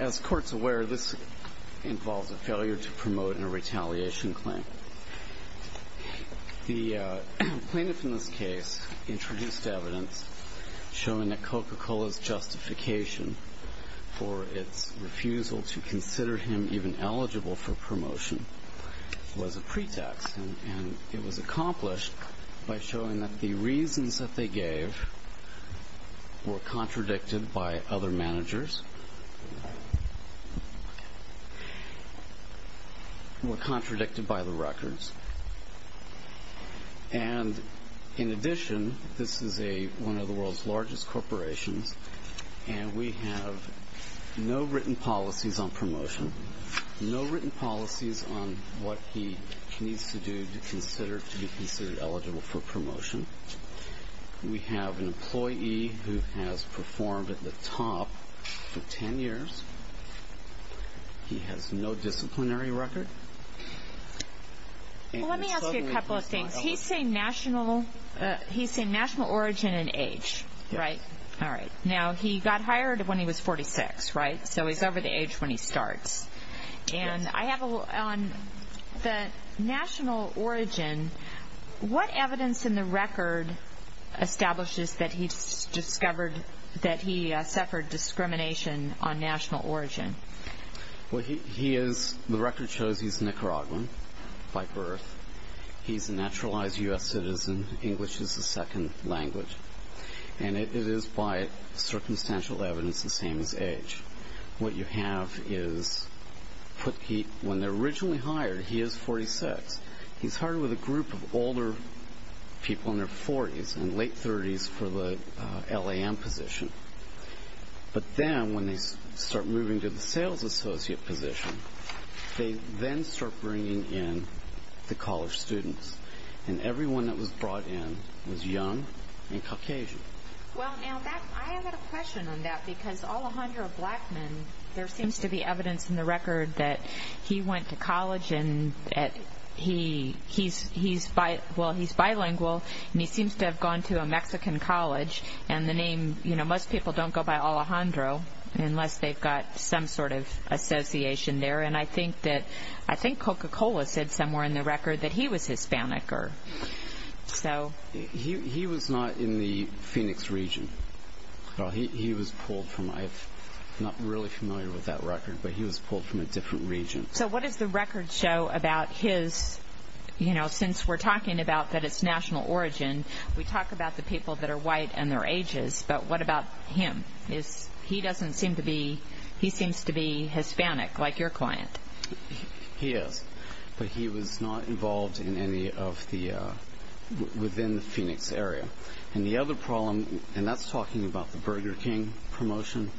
As courts aware, this involves a failure to promote a retaliation claim. The plaintiff in this case introduced evidence showing that Coca Cola's justification for its refusal to consider him even eligible for promotion was a pretext, and it was accomplished by the record. In addition, this is one of the world's largest corporations, and we have no written policies on what he needs to do to be considered eligible for promotion. We have an employee who has performed at the top for 10 years. He has no disciplinary record. He's saying national origin and age. He got hired when he was 46, so he's over the age when he starts. On the national origin, what evidence in the record establishes that he suffered discrimination on national origin? The record shows he's Nicaraguan by birth. He's a naturalized U.S. citizen. English is his second language, and it is by circumstantial evidence the same as age. When they're originally hired, he is 46. He's hired with a group of older people in their 40s and late 30s for the LAM position. But then, when they start moving to the sales associate position, they then start bringing in the college students, and everyone that was brought in was young and Caucasian. I have a question on that, because Alejandro Blackman, there seems to be evidence in the record that he went to college. He's bilingual, and he seems to have gone to a Mexican college. Most people don't go by Alejandro, unless they've got some sort of association there. I think Coca-Cola said somewhere in the record that he was Hispanic. He was not in the Phoenix region. He was pulled from, I'm not really familiar with that record, but he was pulled from a different region. So what does the record show about his, since we're talking about that it's national origin, we talk about the people that are white and their ages, but what about him? He seems to be Hispanic, like your client. He is, but he was not involved in any of the, within the Phoenix area. And the other problem, and that's talking about the Burger King promotion,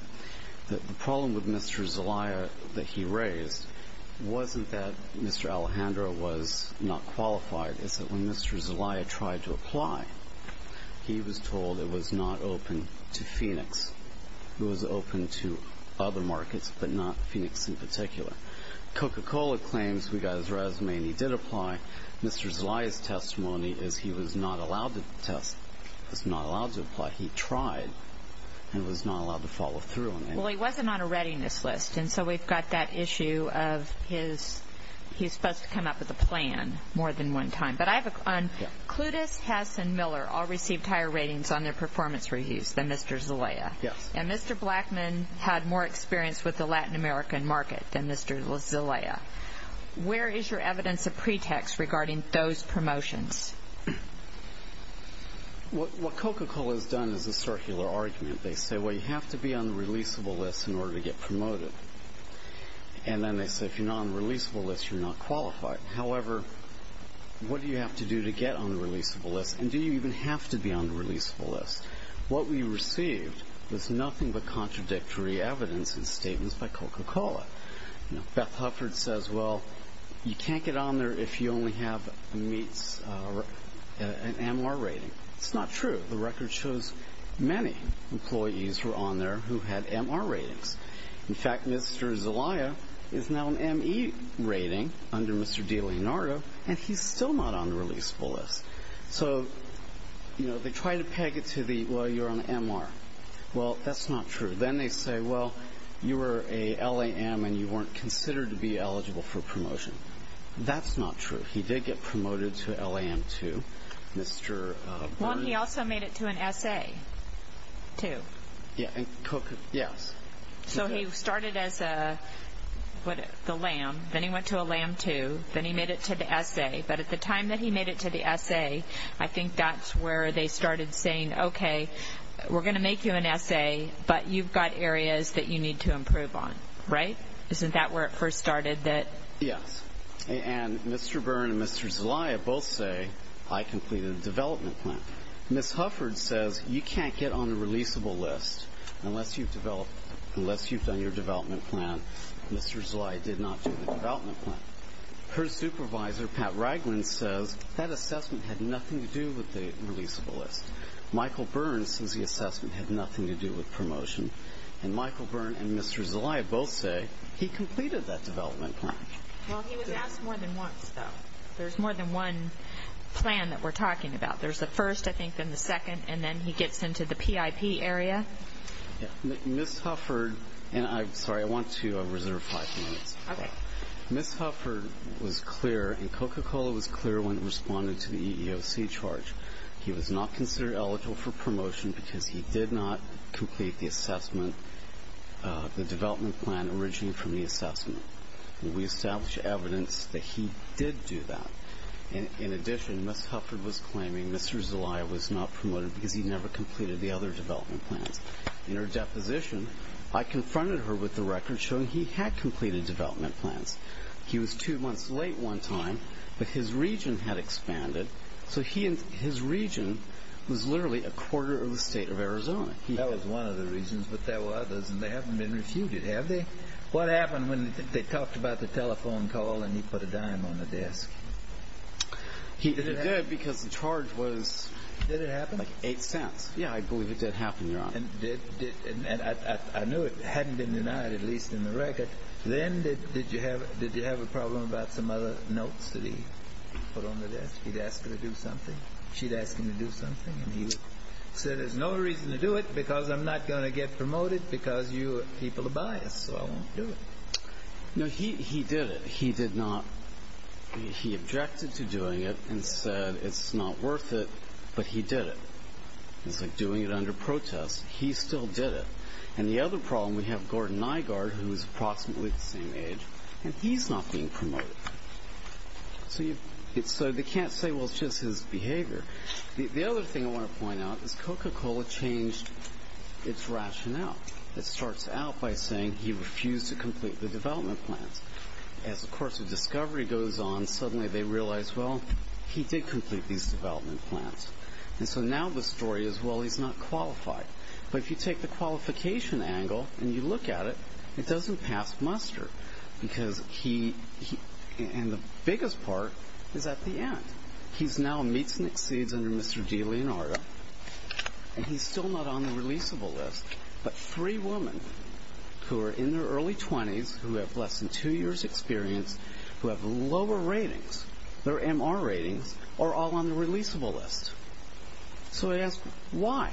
the problem with Mr. Zelaya that he raised wasn't that Mr. Alejandro was not qualified, it's that when Mr. Zelaya tried to apply, he was told it was not open to Phoenix. It was open to other markets, but not Phoenix in particular. Coca-Cola claims we got his resume and he did apply. Mr. Zelaya's testimony is he was not allowed to apply. He tried and was not allowed to follow through. Well, he wasn't on a readiness list, and so we've got that issue of his, he's supposed to come up with a plan more than one time. But I have a, Clutis, Hess, and Miller all received higher ratings on their performance reviews than Mr. Zelaya. And Mr. Blackman had more experience with the Latin American market than Mr. Zelaya. Where is your evidence of pretext regarding those promotions? What Coca-Cola has done is a circular argument. They say, well, you have to be on the releasable list in order to get promoted. And then they say, if you're not on the releasable list, you're not qualified. However, what do you have to do to get on the releasable list, and do you even have to be on the releasable list? What we received was nothing but contradictory evidence and statements by Coca-Cola. Beth Hufford says, well, you can't get on there if you only have an MR rating. It's not true. The record shows many employees were on there who had MR ratings. In fact, Mr. Zelaya is now an ME rating under Mr. DiLeonardo, and he's still not on the releasable list. So, you know, they try to peg it to the, well, you're on MR. Well, that's not true. Then they say, well, you were a LAM and you weren't considered to be eligible for promotion. That's not true. He did get promoted to LAM 2. Mr. Well, and he also made it to an SA, too. Yes. So he started as a LAM, then he went to a LAM 2, then he made it to the SA. But at the time that he made it to the SA, I think that's where they started saying, okay, we're going to make you an SA, but you've got areas that you need to improve on. Right? Isn't that where it first started? Yes. And Mr. Byrne and Mr. Zelaya both say, I completed the development plan. Ms. Hufford says, you can't get on the releasable list unless you've developed, unless you've done your development plan. Mr. Zelaya did not do the development plan. Her supervisor, Pat Ragland, says that assessment had nothing to do with the releasable list. Michael Byrne says the assessment had nothing to do with promotion. And Michael Byrne and Mr. Zelaya both say he completed that development plan. Well, he was asked more than once, though. There's more than one plan that we're talking about. There's a first, I think, and the second, and then he gets into the PIP area. Ms. Hufford, and I'm sorry, I want to reserve five minutes. Okay. Ms. Hufford was clear, and Coca-Cola was clear when it responded to the EEOC charge, he was not considered eligible for promotion because he did not complete the assessment, the development plan originating from the assessment. We established evidence that he did do that. In addition, Ms. Hufford was claiming Mr. Zelaya was not promoted because he never completed the other development plans. In her deposition, I confronted her with the record showing he had completed development plans. He was two months late one time, but his region had expanded, so his region was literally a quarter of the state of Arizona. That was one of the reasons, but there were others, and they haven't been refuted, have they? What happened when they talked about the telephone call and he put a dime on the desk? He did, because the charge was... Did it happen? Eight cents. I knew it hadn't been denied, at least in the record. Then did you have a problem about some other notes that he put on the desk? He'd asked her to do something? She'd asked him to do something? And he said, there's no reason to do it because I'm not going to get promoted because you people are biased, so I won't do it. No, he did it. He did not... He objected to doing it and said it's not worth it, but he did it. It's like doing it under protest. He still did it. And the other problem, we have Gordon Nygaard, who's approximately the same age, and he's not being promoted. So they can't say, well, it's just his behavior. The other thing I want to point out is Coca-Cola changed its rationale. It starts out by saying he refused to complete the development plans. As the course of discovery goes on, suddenly they realize, well, he did complete these development plans. And so now the story is, well, he's not qualified. But if you take the qualification angle and you look at it, it doesn't pass muster because he... and the biggest part is at the end. He now meets and exceeds under Mr. D. Leonardo, and he's still not on the releasable list. But three women who are in their early 20s, who have less than two years' experience, who have lower ratings, their MR ratings, are all on the releasable list. So I ask, why?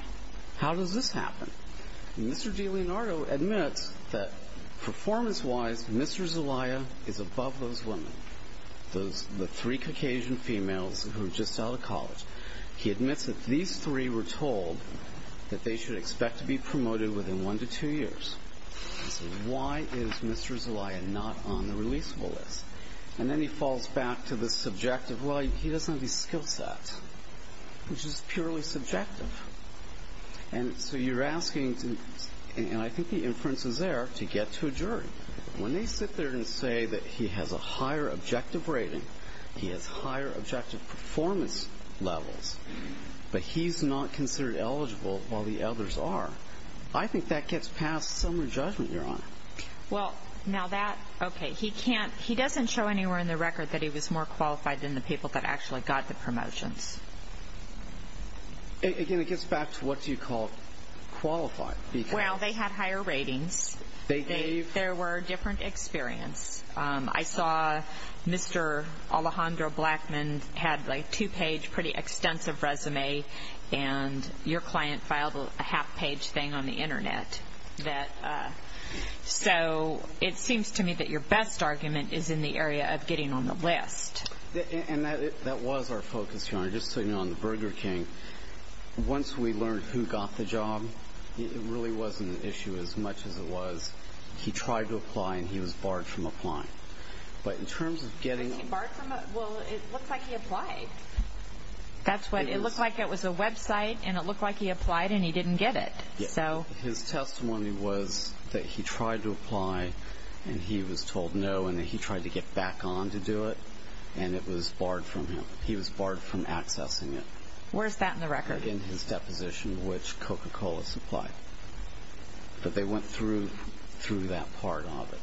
How does this happen? Mr. D. Leonardo admits that performance-wise, Mr. Zelaya is above those women, the three Caucasian females who are just out of college. He admits that these three were told that they should expect to be promoted within one to two years. I say, why is Mr. Zelaya not on the releasable list? And then he falls back to the subjective, well, he doesn't have these skill sets, which is purely subjective. And so you're asking, and I think the inference is there, to get to a jury. When they sit there and say that he has a higher objective rating, he has higher objective performance levels, but he's not considered eligible while the others are, I think that gets past summary judgment, Your Honor. Well, now that, okay, he can't, he doesn't show anywhere in the record that he was more qualified than the people that actually got the promotions. Again, it gets back to what do you call qualified? Well, they had higher ratings. They gave? There were different experience. I saw Mr. Alejandro Blackman had a two-page, pretty extensive resume, and your client filed a half-page thing on the internet. So it seems to me that your best argument is in the area of getting on the list. And that was our focus, Your Honor. Just so you know, on the Burger King, once we learned who got the job, it really wasn't an issue as much as it was he tried to apply and he was barred from applying. But in terms of getting... He barred from, well, it looked like he applied. That's what, it looked like it was a website and it looked like he applied and he didn't get it. His testimony was that he tried to apply and he was told no and he tried to get back on to do it and it was barred from him. He was barred from accessing it. Where's that in the record? In his deposition, which Coca-Cola supplied. But they went through that part of it.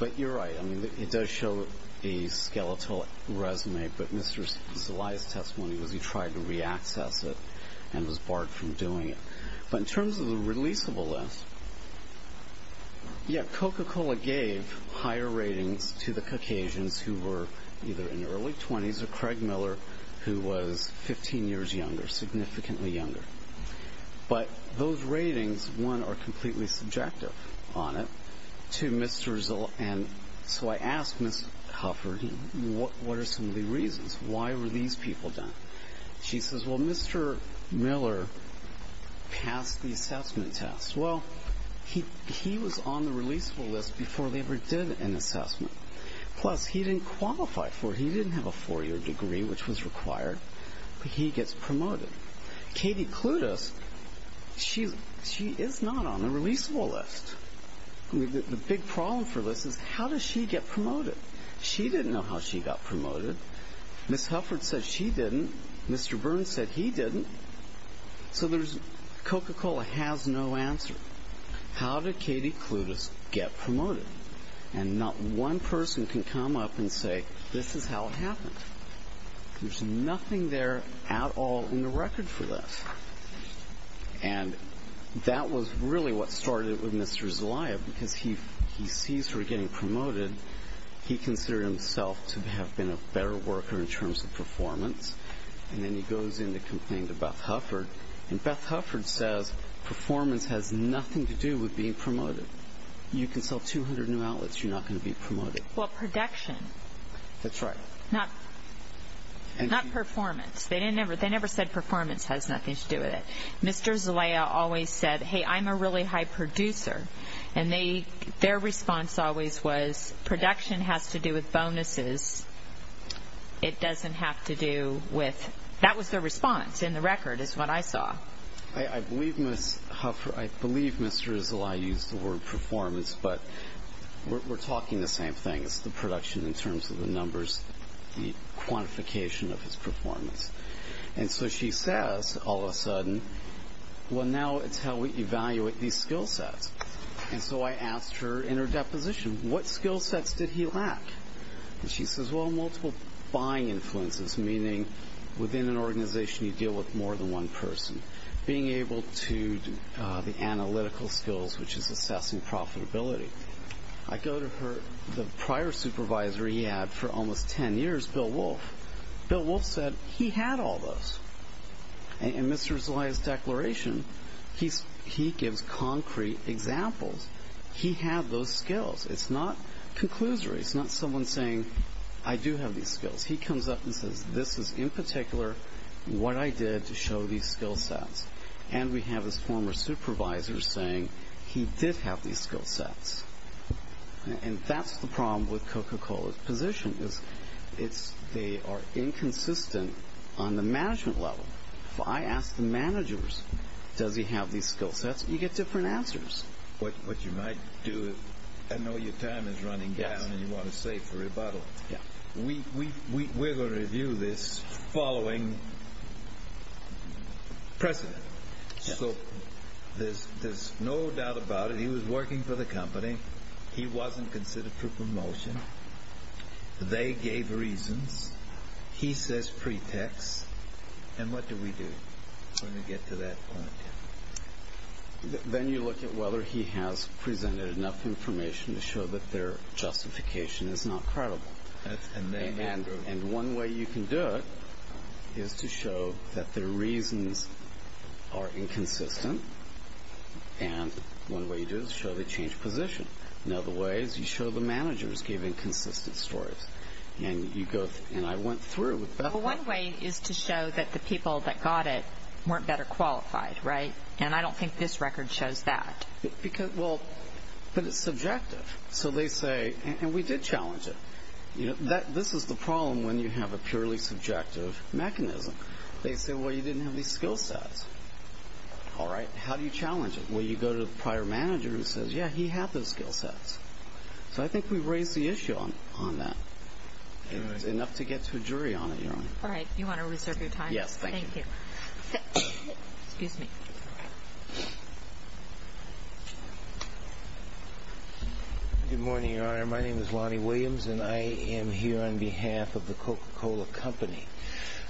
But you're right. I mean, it does show a skeletal resume, but Mr. Zelaya's testimony was he tried to reaccess it and was barred from doing it. But in terms of the releasable list, yeah, Coca-Cola gave higher ratings to the Caucasians who were either in their early 20s or Craig Miller who was 15 years younger, significantly younger. But those ratings, one, are completely subjective on it. Two, Mr. Zelaya... So I asked Ms. Hufford, what are some of the reasons? Why were these people done? She says, well, Mr. Miller passed the assessment test. Well, he was on the releasable list before they ever did an assessment. Plus, he didn't qualify for it. He didn't have a four-year degree, which was required, but he gets promoted. Katie Clutas, she is not on the releasable list. The big problem for this is, how does she get promoted? She didn't know how she got promoted. Ms. Hufford said she didn't. Mr. Burns said he didn't. So Coca-Cola has no answer. How did Katie Clutas get promoted? There's nothing there at all in the record for this. And that was really what started it with Mr. Zelaya, because he sees her getting promoted. He considered himself to have been a better worker in terms of performance. And then he goes in to complain to Beth Hufford, and Beth Hufford says, performance has nothing to do with being promoted. You can sell 200 new outlets, you're not going to be promoted. Well, production. That's right. Not performance. They never said performance has nothing to do with it. Mr. Zelaya always said, hey, I'm a really high producer. And their response always was, production has to do with bonuses. It doesn't have to do with – that was their response in the record is what I saw. I believe Ms. Hufford – I believe Mr. Zelaya used the word performance, but we're talking the same thing as the production in terms of the numbers, the quantification of his performance. And so she says, all of a sudden, well, now it's how we evaluate these skill sets. And so I asked her in her deposition, what skill sets did he lack? And she says, well, multiple buying influences, meaning within an organization you deal with more than one person. Being able to do the analytical skills, which is assessing profitability. I go to the prior supervisor he had for almost 10 years, Bill Wolf. Bill Wolf said he had all those. In Mr. Zelaya's declaration, he gives concrete examples. He had those skills. It's not conclusory. It's not someone saying, I do have these skills. He comes up and says, this is in particular what I did to show these skill sets. And we have his former supervisor saying he did have these skill sets. And that's the problem with Coca-Cola's position is they are inconsistent on the management level. If I ask the managers, does he have these skill sets, you get different answers. What you might do – I know your time is running down and you want to save for rebuttal. We're going to review this following precedent. So there's no doubt about it. He was working for the company. He wasn't considered for promotion. They gave reasons. He says pretext. And what do we do when we get to that point? Then you look at whether he has presented enough information to show that their justification is not credible. And one way you can do it is to show that their reasons are inconsistent. And one way you do it is show they changed position. Another way is you show the managers gave inconsistent stories. And I went through it with Beth. Well, one way is to show that the people that got it weren't better qualified, right? And I don't think this record shows that. But it's subjective. And we did challenge it. This is the problem when you have a purely subjective mechanism. They say, well, you didn't have these skill sets. All right, how do you challenge it? Well, you go to the prior manager who says, yeah, he had those skill sets. So I think we've raised the issue on that. It's enough to get to a jury on it, Your Honor. All right. Do you want to reserve your time? Yes, thank you. Thank you. Excuse me. Good morning, Your Honor. My name is Lonnie Williams, and I am here on behalf of the Coca-Cola Company.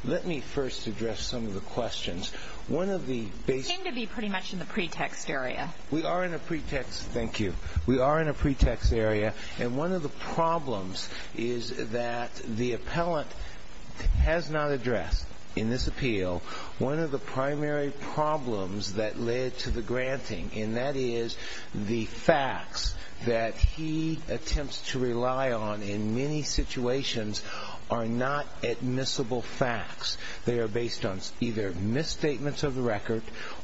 Let me first address some of the questions. One of the basic— You seem to be pretty much in the pretext area. We are in a pretext—thank you. We are in a pretext area. And one of the problems is that the appellant has not addressed in this appeal one of the primary problems that led to the granting, and that is the facts that he attempts to rely on in many situations are not admissible facts. They are based on either misstatements of the record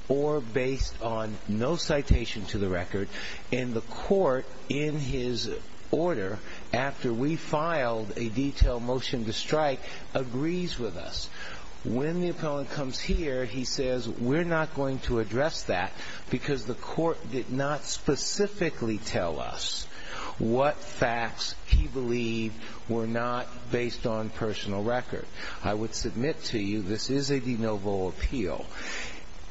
or based on no citation to the record. And the court, in his order, after we filed a detailed motion to strike, agrees with us. When the appellant comes here, he says, We're not going to address that because the court did not specifically tell us what facts he believed were not based on personal record. I would submit to you this is a de novo appeal.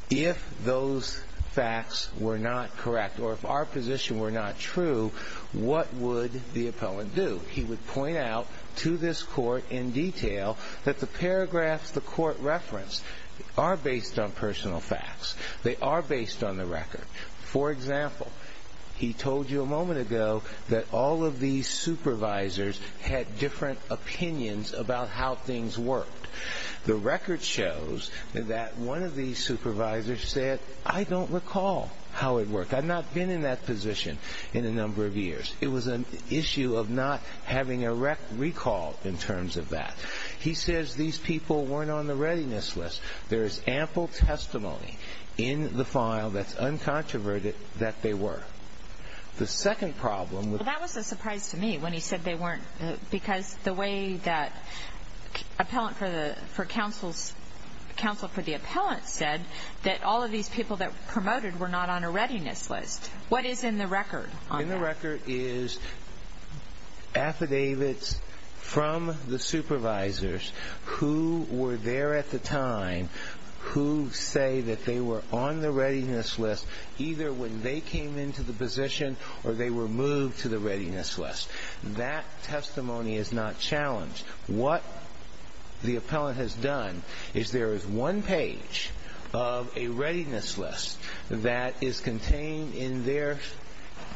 If those facts were not correct or if our position were not true, what would the appellant do? He would point out to this court in detail that the paragraphs the court referenced are based on personal facts. They are based on the record. For example, he told you a moment ago that all of these supervisors had different opinions about how things worked. The record shows that one of these supervisors said, I don't recall how it worked. I've not been in that position in a number of years. It was an issue of not having a recall in terms of that. He says these people weren't on the readiness list. There is ample testimony in the file that's uncontroverted that they were. The second problem with that was a surprise to me when he said they weren't because the way that counsel for the appellant said that all of these people that promoted were not on a readiness list. What is in the record on that? In the record is affidavits from the supervisors who were there at the time who say that they were on the readiness list either when they came into the position or they were moved to the readiness list. That testimony is not challenged. What the appellant has done is there is one page of a readiness list that is contained in their,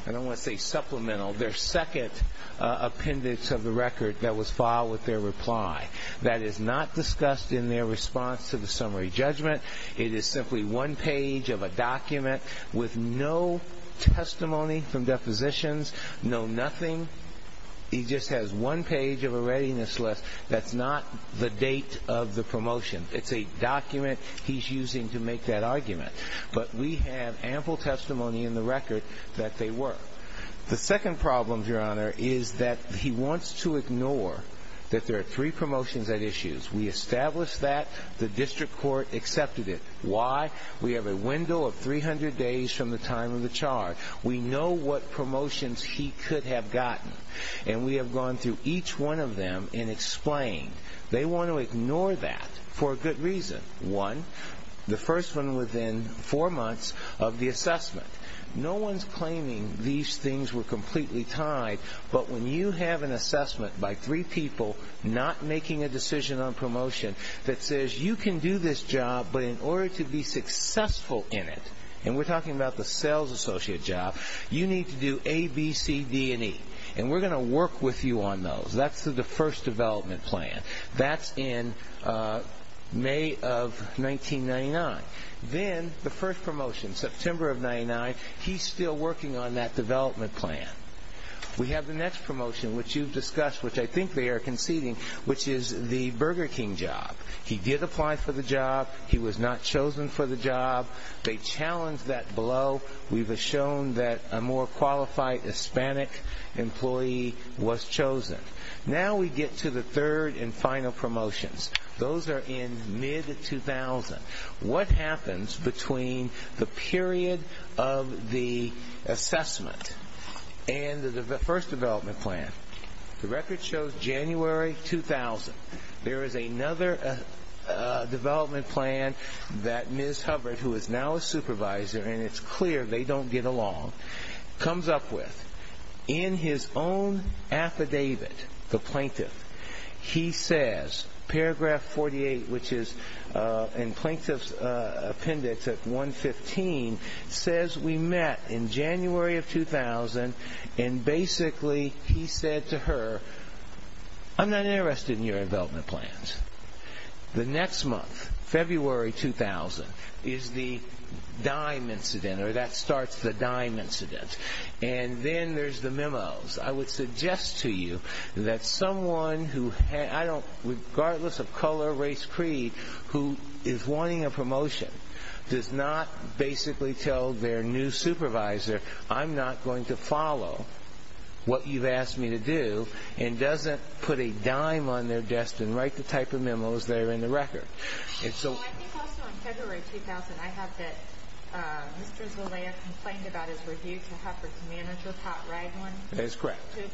I don't want to say supplemental, their second appendix of the record that was filed with their reply. That is not discussed in their response to the summary judgment. It is simply one page of a document with no testimony from depositions, no nothing. He just has one page of a readiness list. That's not the date of the promotion. It's a document he's using to make that argument. But we have ample testimony in the record that they were. The second problem, Your Honor, is that he wants to ignore that there are three promotions at issues. We established that. The district court accepted it. Why? We have a window of 300 days from the time of the charge. We know what promotions he could have gotten, and we have gone through each one of them and explained. They want to ignore that for a good reason. One, the first one within four months of the assessment. No one's claiming these things were completely tied, but when you have an assessment by three people not making a decision on promotion that says you can do this job, but in order to be successful in it, and we're talking about the sales associate job, you need to do A, B, C, D, and E, and we're going to work with you on those. That's the first development plan. That's in May of 1999. Then the first promotion, September of 1999, he's still working on that development plan. We have the next promotion, which you've discussed, which I think they are conceding, which is the Burger King job. He did apply for the job. He was not chosen for the job. They challenged that below. We've shown that a more qualified Hispanic employee was chosen. Now we get to the third and final promotions. Those are in mid-2000. What happens between the period of the assessment and the first development plan? The record shows January 2000. There is another development plan that Ms. Hubbard, who is now a supervisor, and it's clear they don't get along, comes up with. In his own affidavit, the plaintiff, he says, paragraph 48, which is in plaintiff's appendix at 115, says we met in January of 2000, and basically he said to her, I'm not interested in your development plans. The next month, February 2000, is the dime incident, or that starts the dime incident. And then there's the memos. I would suggest to you that someone who, regardless of color, race, creed, who is wanting a promotion does not basically tell their new supervisor, I'm not going to follow what you've asked me to do, and doesn't put a dime on their desk and write the type of memos that are in the record. I think also in February 2000, I have that Mr. Zelaya complained about his review to Hubbard's manager, Pat Raglin, to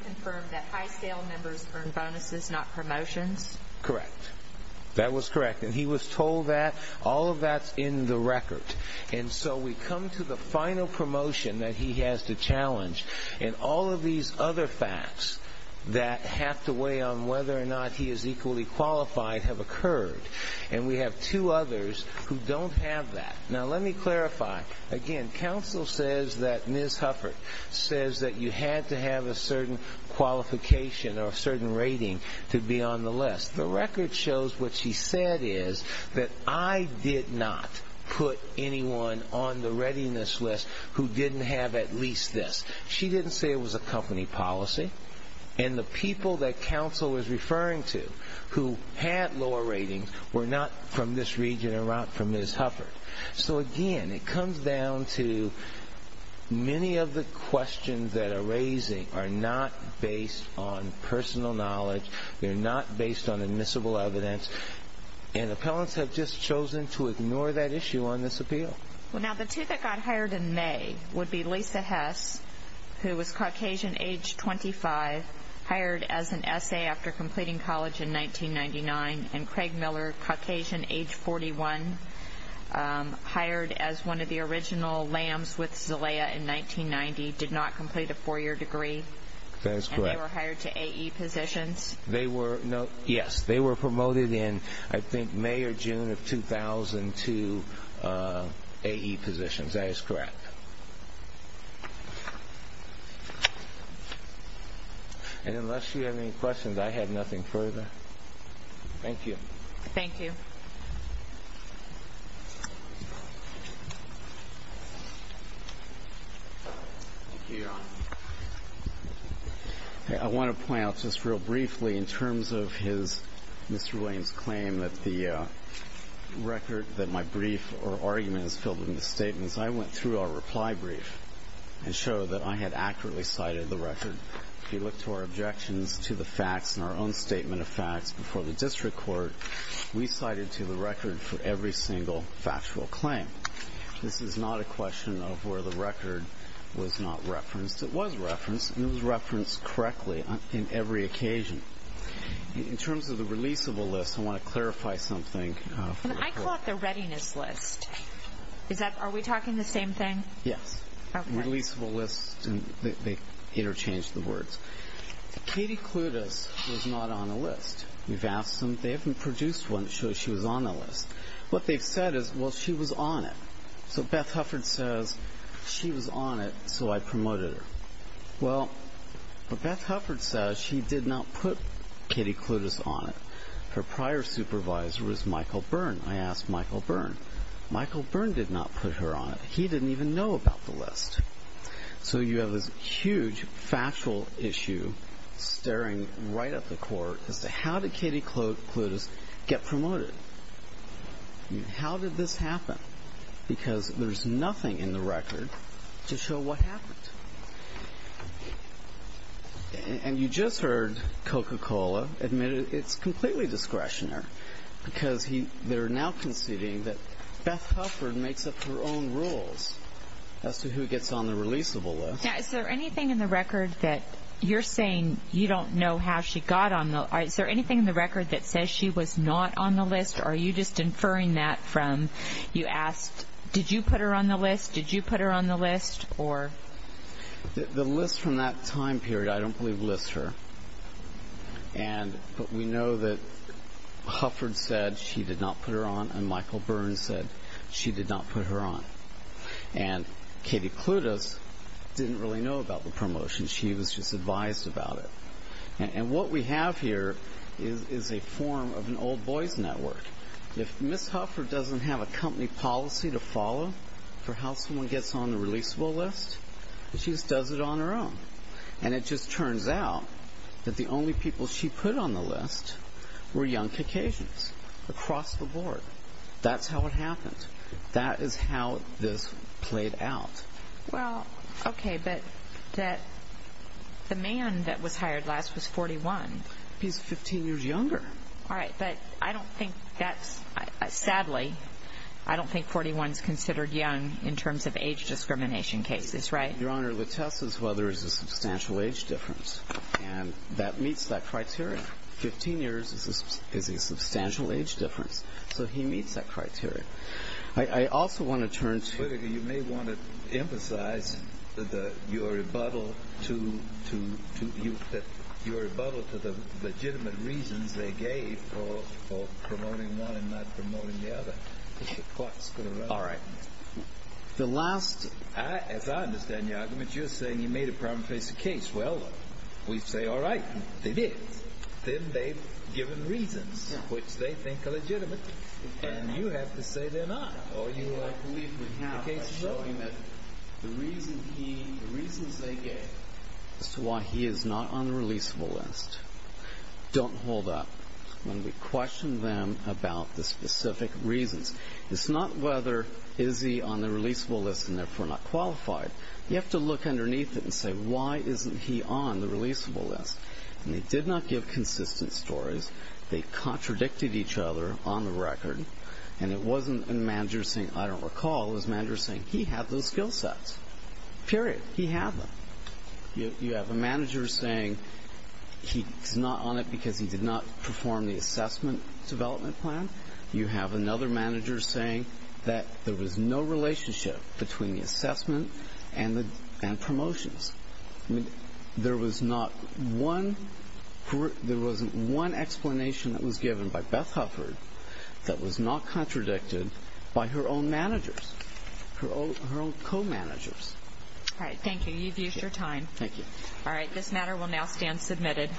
confirm that high-scale members earn bonuses, not promotions. Correct. That was correct, and he was told that. All of that's in the record. And so we come to the final promotion that he has to challenge, and all of these other facts that have to weigh on whether or not he is equally qualified have occurred, and we have two others who don't have that. Now, let me clarify. Again, counsel says that Ms. Hufford says that you had to have a certain qualification or a certain rating to be on the list. The record shows what she said is that I did not put anyone on the readiness list who didn't have at least this. She didn't say it was a company policy, and the people that counsel was referring to who had lower ratings were not from this region and not from Ms. Hufford. So, again, it comes down to many of the questions that are raised are not based on personal knowledge. They're not based on admissible evidence, and appellants have just chosen to ignore that issue on this appeal. Well, now, the two that got hired in May would be Lisa Hess, who was Caucasian, age 25, hired as an essay after completing college in 1999, and Craig Miller, Caucasian, age 41, hired as one of the original lambs with Zelaya in 1990, did not complete a four-year degree. That is correct. And they were hired to AE positions. Yes, they were promoted in, I think, May or June of 2000 to AE positions. That is correct. And unless you have any questions, I have nothing further. Thank you. Thank you. Thank you, Your Honor. I want to point out just real briefly, in terms of Mr. Williams' claim that the record, that my brief or argument is filled with misstatements, I went through our reply brief and showed that I had accurately cited the record. If you look to our objections to the facts in our own statement of facts before the district court, we cited to the record for every single factual claim. This is not a question of where the record was not referenced. It was referenced, and it was referenced correctly in every occasion. In terms of the releasable list, I want to clarify something. Can I call it the readiness list? Are we talking the same thing? Yes. Releaseable list, and they interchanged the words. Katie Clutis was not on the list. We've asked them. They haven't produced one that shows she was on the list. What they've said is, well, she was on it. So Beth Hufford says, she was on it, so I promoted her. Well, what Beth Hufford says, she did not put Katie Clutis on it. Her prior supervisor was Michael Byrne. I asked Michael Byrne. Michael Byrne did not put her on it. He didn't even know about the list. So you have this huge factual issue staring right at the court as to how did Katie Clutis get promoted. How did this happen? Because there's nothing in the record to show what happened. And you just heard Coca-Cola admit it's completely discretionary because they're now conceding that Beth Hufford makes up her own rules as to who gets on the releasable list. Is there anything in the record that you're saying you don't know how she got on the list? Is there anything in the record that says she was not on the list? Or are you just inferring that from you asked, did you put her on the list? Did you put her on the list? The list from that time period I don't believe lists her. But we know that Hufford said she did not put her on and Michael Byrne said she did not put her on. And Katie Clutis didn't really know about the promotion. She was just advised about it. And what we have here is a form of an old boys network. If Ms. Hufford doesn't have a company policy to follow for how someone gets on the releasable list, she just does it on her own. And it just turns out that the only people she put on the list were young Caucasians across the board. That's how it happened. That is how this played out. Well, okay, but the man that was hired last was 41. He's 15 years younger. All right, but I don't think that's, sadly, I don't think 41 is considered young in terms of age discrimination cases, right? Your Honor, the test is whether there's a substantial age difference. And that meets that criteria. Fifteen years is a substantial age difference. So he meets that criteria. I also want to turn to you may want to emphasize your rebuttal to the legitimate reasons they gave for promoting one and not promoting the other. All right. The last. As I understand your argument, you're saying you made a problem face the case. Well, we say, all right, they did. Then they've given reasons which they think are legitimate. And you have to say they're not. I believe we have by showing that the reasons they gave as to why he is not on the releasable list, don't hold up when we question them about the specific reasons. It's not whether is he on the releasable list and therefore not qualified. You have to look underneath it and say, why isn't he on the releasable list? And they did not give consistent stories. They contradicted each other on the record. And it wasn't a manager saying, I don't recall. It was a manager saying, he had those skill sets. Period. He had them. You have a manager saying he's not on it because he did not perform the assessment development plan. You have another manager saying that there was no relationship between the assessment and promotions. There was not one explanation that was given by Beth Hufford that was not contradicted by her own managers, her own co-managers. All right, thank you. You've used your time. Thank you. All right, this matter will now stand submitted.